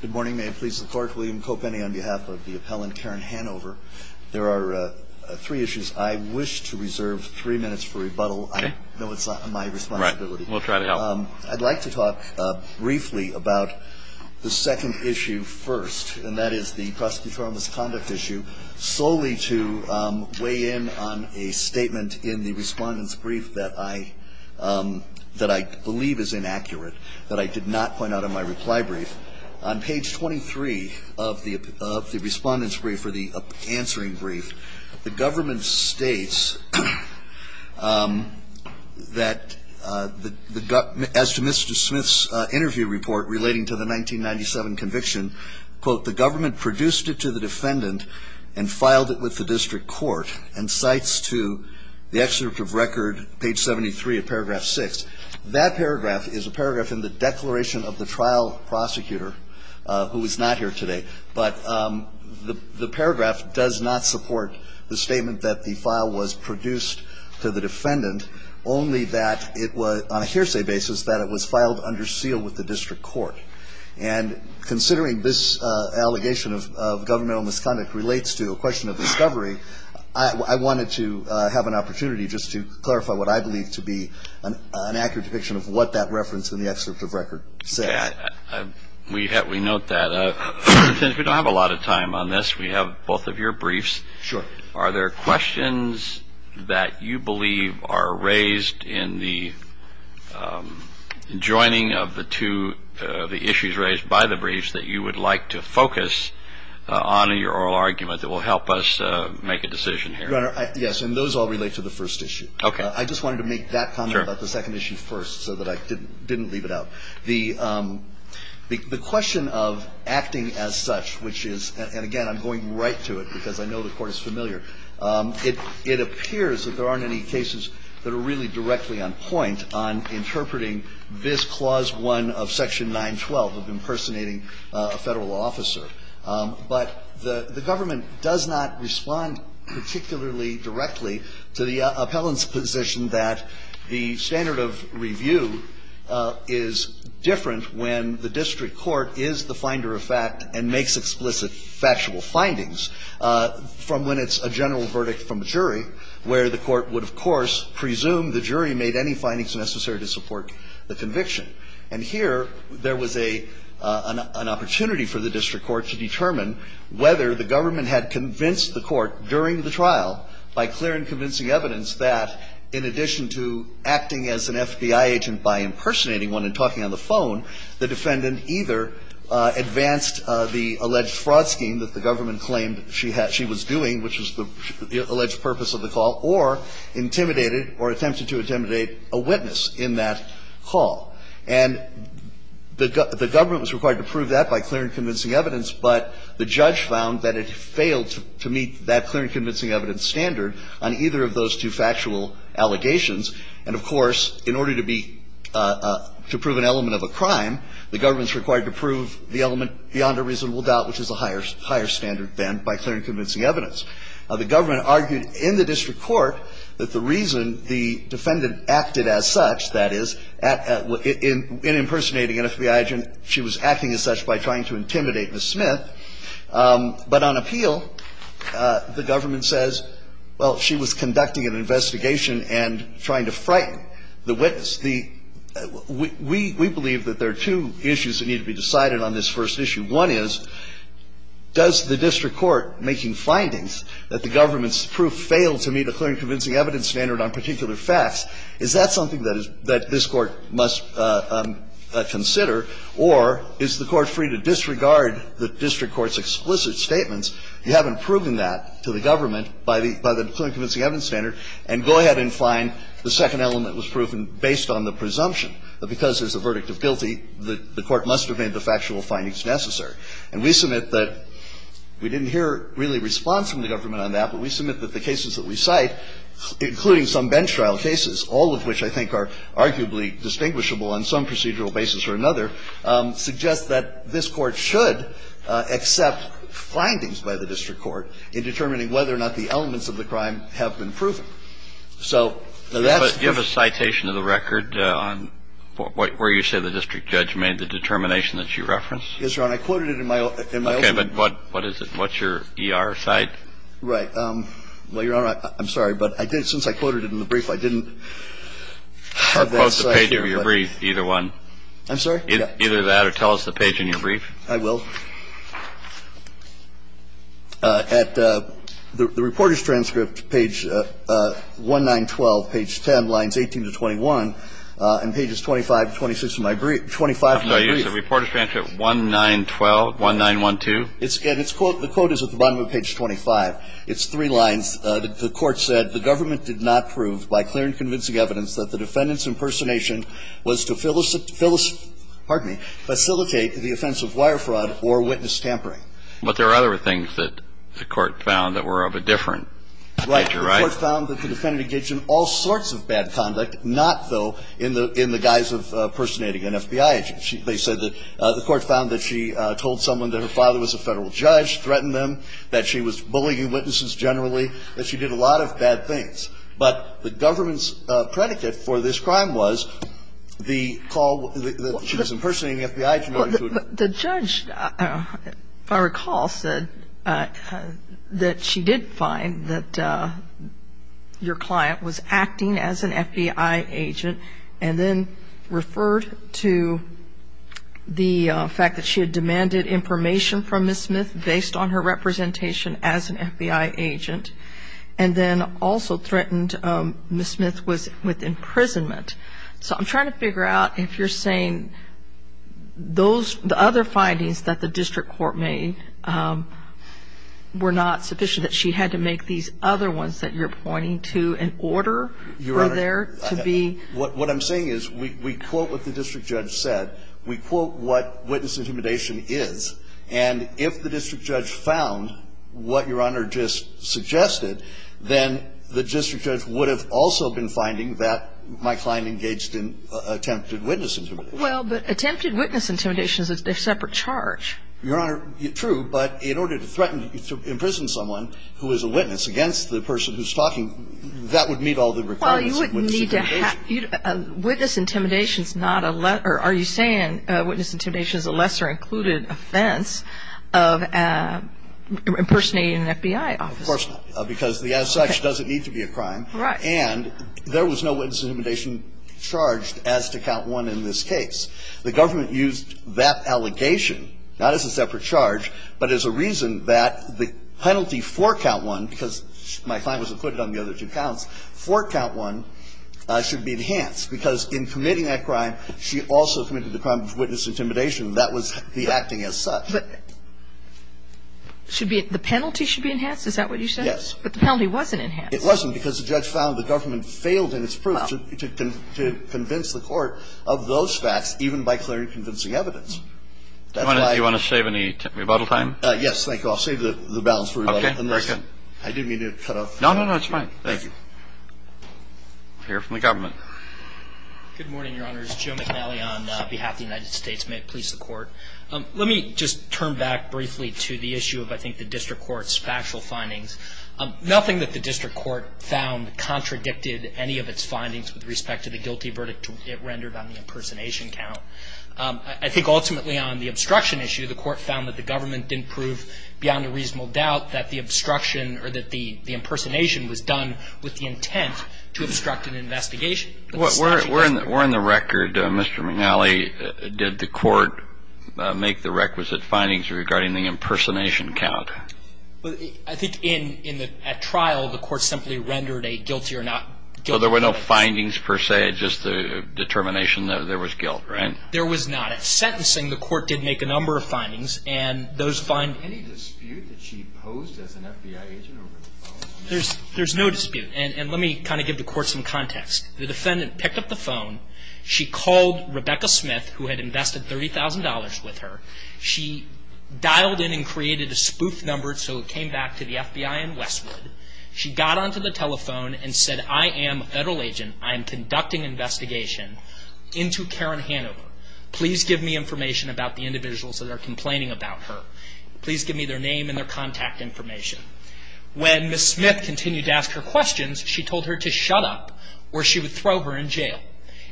Good morning. May it please the court, William Kopeny on behalf of the appellant Karen Hanover. There are three issues I wish to reserve three minutes for rebuttal. I know it's not my responsibility. We'll try to help. I'd like to talk briefly about the second issue first, and that is the prosecutorial misconduct issue, solely to weigh in on a statement in the respondent's brief that I believe is inaccurate, that I did not point out in my reply brief. On page 23 of the respondent's brief, or the answering brief, the government states that, as to Mr. Smith's interview report relating to the 1997 conviction, quote, the government produced it to the defendant and filed it with the district court, and cites to the excerpt of record, page 73 of paragraph 6. That paragraph is a paragraph in the declaration of the trial prosecutor, who is not here today. But the paragraph does not support the statement that the file was produced to the defendant, only that it was, on a hearsay basis, that it was filed under seal with the district court. And considering this allegation of governmental misconduct relates to a question of discovery, I wanted to have an opportunity just to clarify what I believe to be an accurate depiction of what that reference in the excerpt of record said. We note that. Since we don't have a lot of time on this, we have both of your briefs. Sure. Are there questions that you believe are raised in the joining of the two, the issues raised by the briefs that you would like to focus on in your oral argument that will help us make a decision here? Your Honor, yes. And those all relate to the first issue. Okay. I just wanted to make that comment about the second issue first so that I didn't leave it out. The question of acting as such, which is, and again, I'm going right to it because I know the Court is familiar. It appears that there aren't any cases that are really directly on point on interpreting this Clause 1 of Section 912 of impersonating a Federal officer. But the government does not respond particularly directly to the appellant's position that the standard of review is different when the district court is the finder of fact and makes explicit factual findings from when it's a general verdict from a jury, where the court would, of course, presume the jury made any findings necessary to support the conviction. And here, there was an opportunity for the district court to determine whether the government had convinced the court during the trial by clear and convincing evidence that, in addition to acting as an FBI agent by impersonating one and talking on the phone, the defendant either advanced the alleged fraud scheme that the government claimed she was doing, which was the alleged purpose of the call, or intimidated or attempted to intimidate a witness in that call. And the government was required to prove that by clear and convincing evidence, but the judge found that it failed to meet that clear and convincing evidence standard on either of those two factual allegations. And, of course, in order to be to prove an element of a crime, the government is required to prove the element beyond a reasonable doubt, which is a higher standard than by clear and convincing evidence. The government argued in the district court that the reason the defendant acted as such, that is, in impersonating an FBI agent, she was acting as such by trying to intimidate Ms. Smith. But on appeal, the government says, well, she was conducting an investigation and trying to frighten the witness. We believe that there are two issues that need to be decided on this first issue. One is, does the district court, making findings that the government's proof failed to meet a clear and convincing evidence standard on particular facts, is that something that this Court must consider? Or is the Court free to disregard the district court's explicit statements? You haven't proven that to the government by the clear and convincing evidence standard, and go ahead and find the second element was proven based on the presumption that because there's a verdict of guilty, the Court must have made the factual findings necessary. And we submit that we didn't hear really response from the government on that, but we submit that the cases that we cite, including some bench trial cases, all of which I think are arguably distinguishable on some procedural basis or another, suggest that this Court should accept findings by the district court in determining whether or not the elements of the crime have been proven. So that's the difference. But do you have a citation of the record on where you say the district judge made the determination that you referenced? Yes, Your Honor. I quoted it in my opening. Okay. But what is it? What's your ER cite? Right. Well, Your Honor, I'm sorry, but since I quoted it in the brief, I didn't have that cite here. Quote the page of your brief, either one. I'm sorry? Either that or tell us the page in your brief. I will. At the reporter's transcript, page 1912, page 10, lines 18 to 21, and pages 25 to 26 of my brief, 25 of my brief. I'm sorry. Is the reporter's transcript 1912, 1912? And it's quote, the quote is at the bottom of page 25. It's three lines. The Court said, The government did not prove by clear and convincing evidence that the defendant's But there are other things that the Court found that were of a different nature, right? Right. The Court found that the defendant engaged in all sorts of bad conduct, not, though, in the guise of impersonating an FBI agent. They said that the Court found that she told someone that her father was a Federal judge, threatened them, that she was bullying witnesses generally, that she did a lot of bad things. But the government's predicate for this crime was the call that she was impersonating an FBI agent. The judge, if I recall, said that she did find that your client was acting as an FBI agent, and then referred to the fact that she had demanded information from Ms. Smith based on her representation as an FBI agent, and then also threatened Ms. Smith with imprisonment. So I'm trying to figure out if you're saying the other findings that the district court made were not sufficient, that she had to make these other ones that you're pointing to in order for there to be... Your Honor, what I'm saying is we quote what the district judge said. We quote what witness intimidation is. And if the district judge found what Your Honor just suggested, then the district judge would have also been finding that my client engaged in attempted witness intimidation. Well, but attempted witness intimidation is a separate charge. Your Honor, true, but in order to threaten to imprison someone who is a witness against the person who's talking, that would meet all the requirements of witness intimidation. Well, you wouldn't need to have witness intimidation. Are you saying witness intimidation is a lesser included offense of impersonating an FBI officer? Of course not. Because the as such doesn't need to be a crime. Right. And there was no witness intimidation charged as to Count 1 in this case. The government used that allegation, not as a separate charge, but as a reason that the penalty for Count 1, because my client was included on the other two counts, for Count 1 should be enhanced, because in committing that crime, she also committed the crime of witness intimidation. That was the acting as such. But should be the penalty should be enhanced? Is that what you said? Yes. But the penalty wasn't enhanced. It wasn't, because the judge found the government failed in its proof to convince the court of those facts, even by clearly convincing evidence. Do you want to save any rebuttal time? Yes. Thank you. I'll save the balance for rebuttal. Okay. Very good. I didn't mean to cut off. No, no, no. It's fine. Thank you. We'll hear from the government. Good morning, Your Honors. Joe McNally on behalf of the United States. May it please the Court. Let me just turn back briefly to the issue of, I think, the district court's factual findings. Nothing that the district court found contradicted any of its findings with respect to the guilty verdict it rendered on the impersonation count. I think ultimately on the obstruction issue, the court found that the government didn't prove beyond a reasonable doubt that the obstruction or that the impersonation was done with the intent to obstruct an investigation. Well, we're in the record, Mr. McNally. Did the court make the requisite findings regarding the impersonation count? I think in the trial, the court simply rendered a guilty or not guilty. So there were no findings, per se, just the determination that there was guilt, right? There was not. At sentencing, the court did make a number of findings, and those findings Any dispute that she posed as an FBI agent over the phone? There's no dispute. And let me kind of give the court some context. The defendant picked up the phone. She called Rebecca Smith, who had invested $30,000 with her. She dialed in and created a spoof number so it came back to the FBI in Westwood. She got onto the telephone and said, I am a federal agent. I am conducting investigation into Karen Hanover. Please give me information about the individuals that are complaining about her. Please give me their name and their contact information. When Ms. Smith continued to ask her questions, she told her to shut up or she would throw her in jail.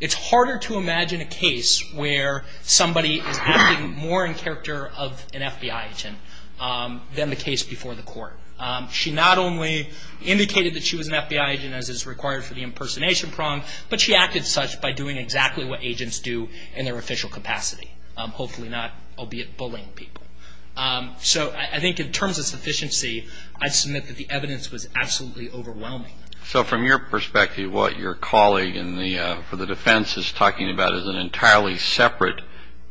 It's harder to imagine a case where somebody is acting more in character of an FBI agent than the case before the court. She not only indicated that she was an FBI agent, as is required for the impersonation prong, but she acted such by doing exactly what agents do in their official capacity, hopefully not, albeit, bullying people. So I think in terms of sufficiency, I submit that the evidence was absolutely overwhelming. So from your perspective, what your colleague for the defense is talking about is an entirely separate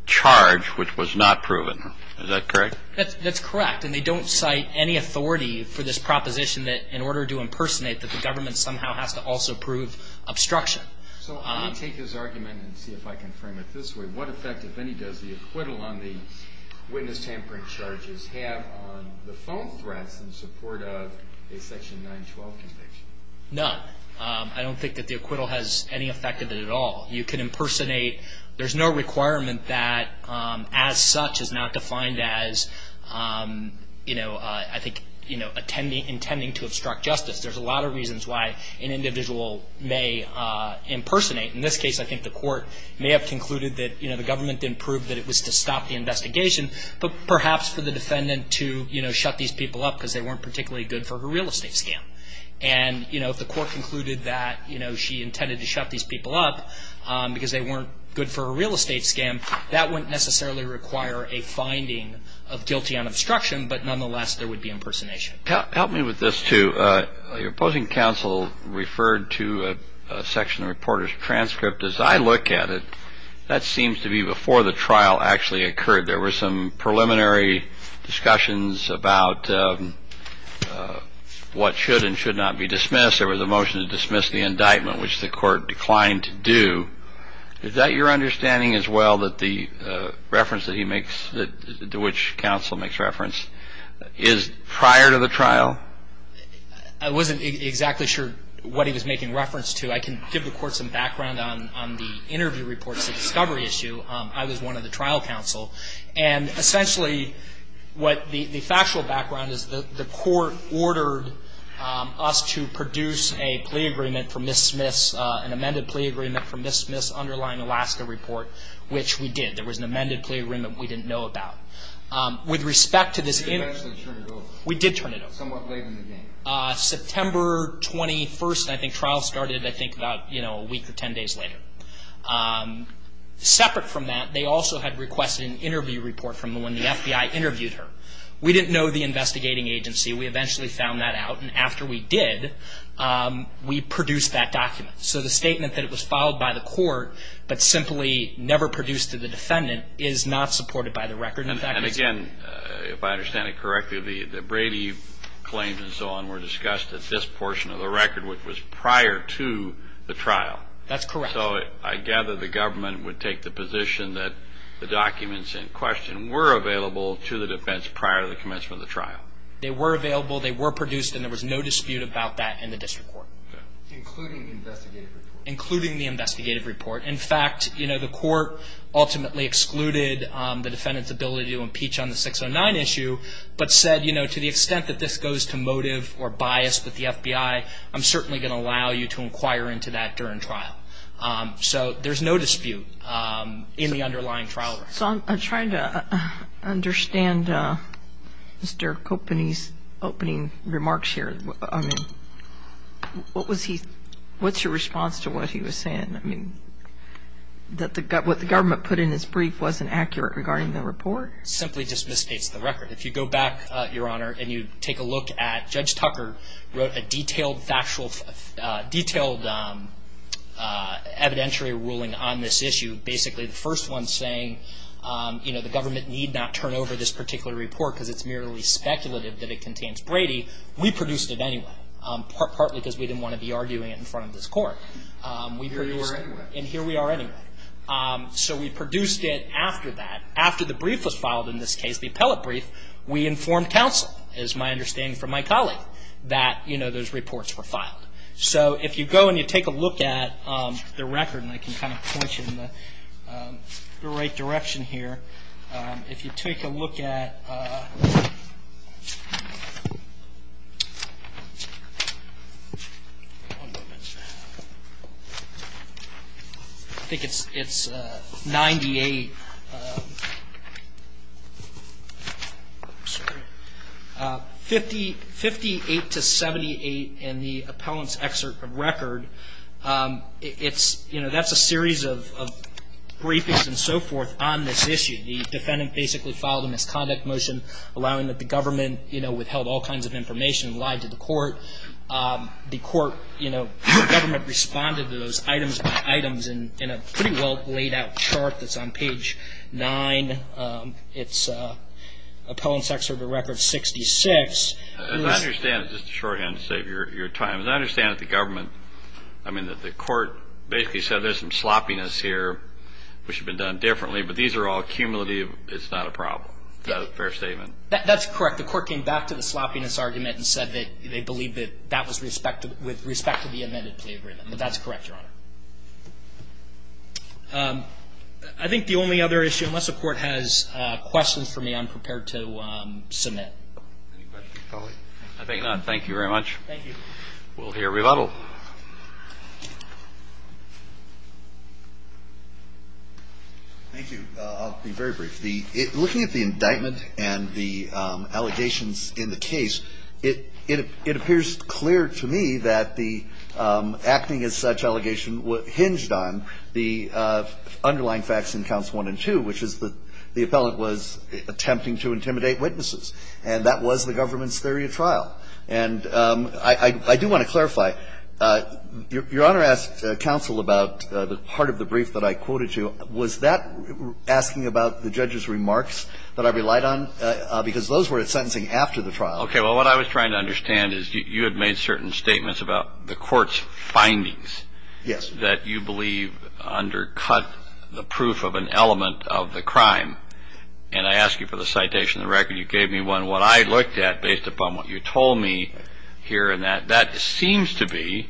charge which was not proven. Is that correct? That's correct. And they don't cite any authority for this proposition that in order to impersonate, that the government somehow has to also prove obstruction. So let me take his argument and see if I can frame it this way. What effect, if any, does the acquittal on the witness tampering charges have on the prong threats in support of a Section 912 conviction? None. I don't think that the acquittal has any effect of it at all. You can impersonate. There's no requirement that as such is not defined as, you know, I think, you know, intending to obstruct justice. There's a lot of reasons why an individual may impersonate. In this case, I think the court may have concluded that, you know, the government didn't prove that it was to stop the investigation, but perhaps for the defendant to, you know, shut these people up because they weren't particularly good for her real estate scam. And, you know, if the court concluded that, you know, she intended to shut these people up because they weren't good for her real estate scam, that wouldn't necessarily require a finding of guilty on obstruction, but nonetheless there would be impersonation. Help me with this, too. Your opposing counsel referred to a section of the reporter's transcript. As I look at it, that seems to be before the trial actually occurred. There were some preliminary discussions about what should and should not be dismissed. There was a motion to dismiss the indictment, which the court declined to do. Is that your understanding as well, that the reference that he makes, to which counsel makes reference, is prior to the trial? I wasn't exactly sure what he was making reference to. I can give the court some background on the interview reports, the discovery issue. I was one of the trial counsel. And essentially what the factual background is the court ordered us to produce a plea agreement for Ms. Smith's, an amended plea agreement for Ms. Smith's underlying Alaska report, which we did. There was an amended plea agreement we didn't know about. With respect to this interview. You eventually turned it over. We did turn it over. Somewhat late in the game. September 21st, I think trial started, I think, about, you know, a week or ten days later. Separate from that, they also had requested an interview report from when the FBI interviewed her. We didn't know the investigating agency. We eventually found that out. And after we did, we produced that document. So the statement that it was filed by the court, but simply never produced to the defendant, is not supported by the record. And again, if I understand it correctly, the Brady claims and so on were discussed at this portion of the record, which was prior to the trial. That's correct. So I gather the government would take the position that the documents in question were available to the defense prior to the commencement of the trial. They were available. They were produced. And there was no dispute about that in the district court. Including the investigative report. Including the investigative report. In fact, you know, the court ultimately excluded the defendant's ability to impeach on the 609 issue, which is why I'm certainly going to allow you to inquire into that during trial. So there's no dispute in the underlying trial record. So I'm trying to understand Mr. Coppeny's opening remarks here. I mean, what was he – what's your response to what he was saying? I mean, that what the government put in its brief wasn't accurate regarding the report? Simply just misstates the record. If you go back, Your Honor, and you take a look at Judge Tucker wrote a detailed factual – detailed evidentiary ruling on this issue. Basically the first one saying, you know, the government need not turn over this particular report because it's merely speculative that it contains Brady. We produced it anyway. Partly because we didn't want to be arguing it in front of this court. And here we are anyway. So we produced it after that. We informed counsel, is my understanding from my colleague, that, you know, those reports were filed. So if you go and you take a look at the record, and I can kind of point you in the right direction here. If you take a look at – I think it's 98 – I'm sorry – 58 to 78 in the appellant's excerpt of record. It's, you know, that's a series of briefings and so forth on this issue. The defendant basically filed a misconduct motion allowing that the government, you know, withheld all kinds of information and lied to the court. The court, you know, government responded to those items by items in a pretty well laid out chart that's on page 9. It's appellant's excerpt of record 66. As I understand it, just to shorthand to save your time. As I understand it, the government – I mean, the court basically said there's some sloppiness here, which had been done differently, but these are all cumulative. It's not a problem. Fair statement. That's correct. The court came back to the sloppiness argument and said that they believe that that was with respect to the amended plea agreement. But that's correct, Your Honor. I think the only other issue – unless the court has questions for me, I'm prepared to submit. Any questions, colleague? I think not. Thank you very much. Thank you. We'll hear rebuttal. Thank you. I'll be very brief. Looking at the indictment and the allegations in the case, it appears clear to me that the acting as such allegation hinged on the underlying facts in counts 1 and 2, which is that the appellant was attempting to intimidate witnesses. And that was the government's theory of trial. And I do want to clarify. Your Honor asked counsel about the part of the brief that I quoted you. Was that asking about the judge's remarks that I relied on? Because those were at sentencing after the trial. Okay. Well, what I was trying to understand is you had made certain statements about the court's findings. Yes. That you believe undercut the proof of an element of the crime. And I ask you for the citation of the record. You gave me one. What I looked at based upon what you told me here in that, that seems to be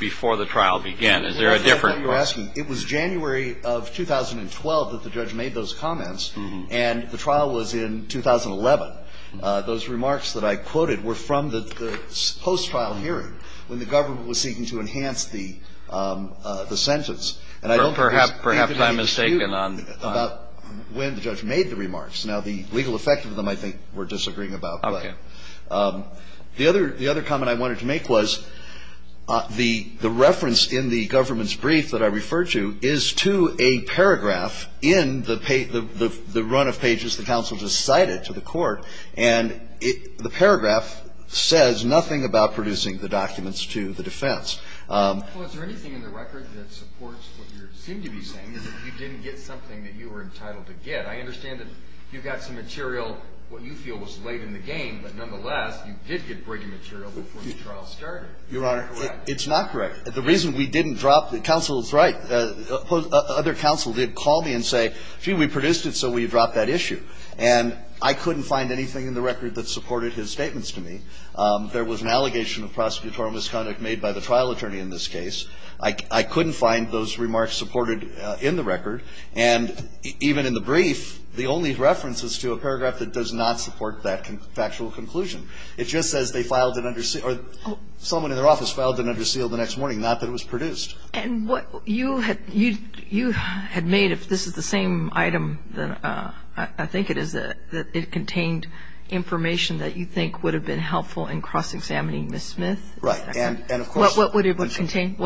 before the trial began. Is there a difference? It was January of 2012 that the judge made those comments. And the trial was in 2011. Those remarks that I quoted were from the post-trial hearing when the government was seeking to enhance the sentence. Well, perhaps I'm mistaken on that. About when the judge made the remarks. Now, the legal effect of them I think we're disagreeing about. Okay. But the other comment I wanted to make was the reference in the government's brief that I referred to is to a paragraph in the run of pages the counsel just cited to the court. And the paragraph says nothing about producing the documents to the defense. Well, is there anything in the record that supports what you seem to be saying, is that you didn't get something that you were entitled to get? I understand that you got some material what you feel was late in the game. But nonetheless, you did get breaking material before the trial started. Is that correct? Your Honor, it's not correct. The reason we didn't drop the counsel's right. Other counsel did call me and say, gee, we produced it so we dropped that issue. And I couldn't find anything in the record that supported his statements to me. There was an allegation of prosecutorial misconduct made by the trial attorney in this case. I couldn't find those remarks supported in the record. And even in the brief, the only reference is to a paragraph that does not support that factual conclusion. It just says they filed an under or someone in their office filed an under seal the next morning, not that it was produced. And what you had made, if this is the same item that I think it is, that it contained information that you think would have been helpful in cross-examining Ms. Smith? Right. And, of course, what would it have contained?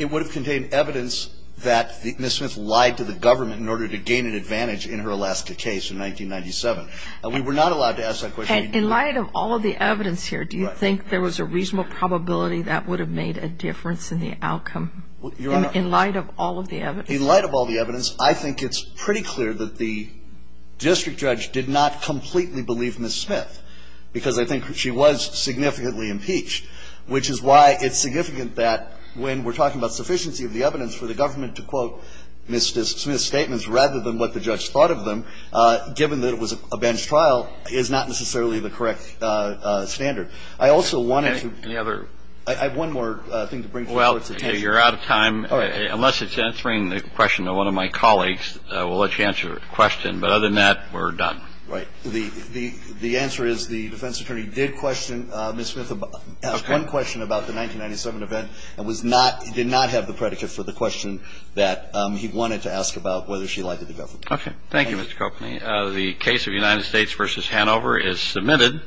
It would have contained evidence that Ms. Smith lied to the government in order to gain an advantage in her Alaska case in 1997. And we were not allowed to ask that question. And in light of all of the evidence here, do you think there was a reasonable probability that would have made a difference in the outcome in light of all of the evidence? In light of all the evidence, I think it's pretty clear that the district judge did not completely believe Ms. Smith, because I think she was significantly impeached, which is why it's significant that when we're talking about sufficiency of the evidence for the government to quote Ms. Smith's statements rather than what the judge thought of them, given that it was a bench trial, is not necessarily the correct standard. I also wanted to ---- Any other ---- I have one more thing to bring to the Court's attention. Well, you're out of time. Unless it's answering the question of one of my colleagues, we'll let you answer your question. But other than that, we're done. Right. The answer is the defense attorney did question Ms. Smith about ---- Okay. One question about the 1997 event and was not ---- did not have the predicate for the question that he wanted to ask about whether she lied to the government. Okay. Thank you, Mr. Coakley. The case of United States v. Hanover is submitted.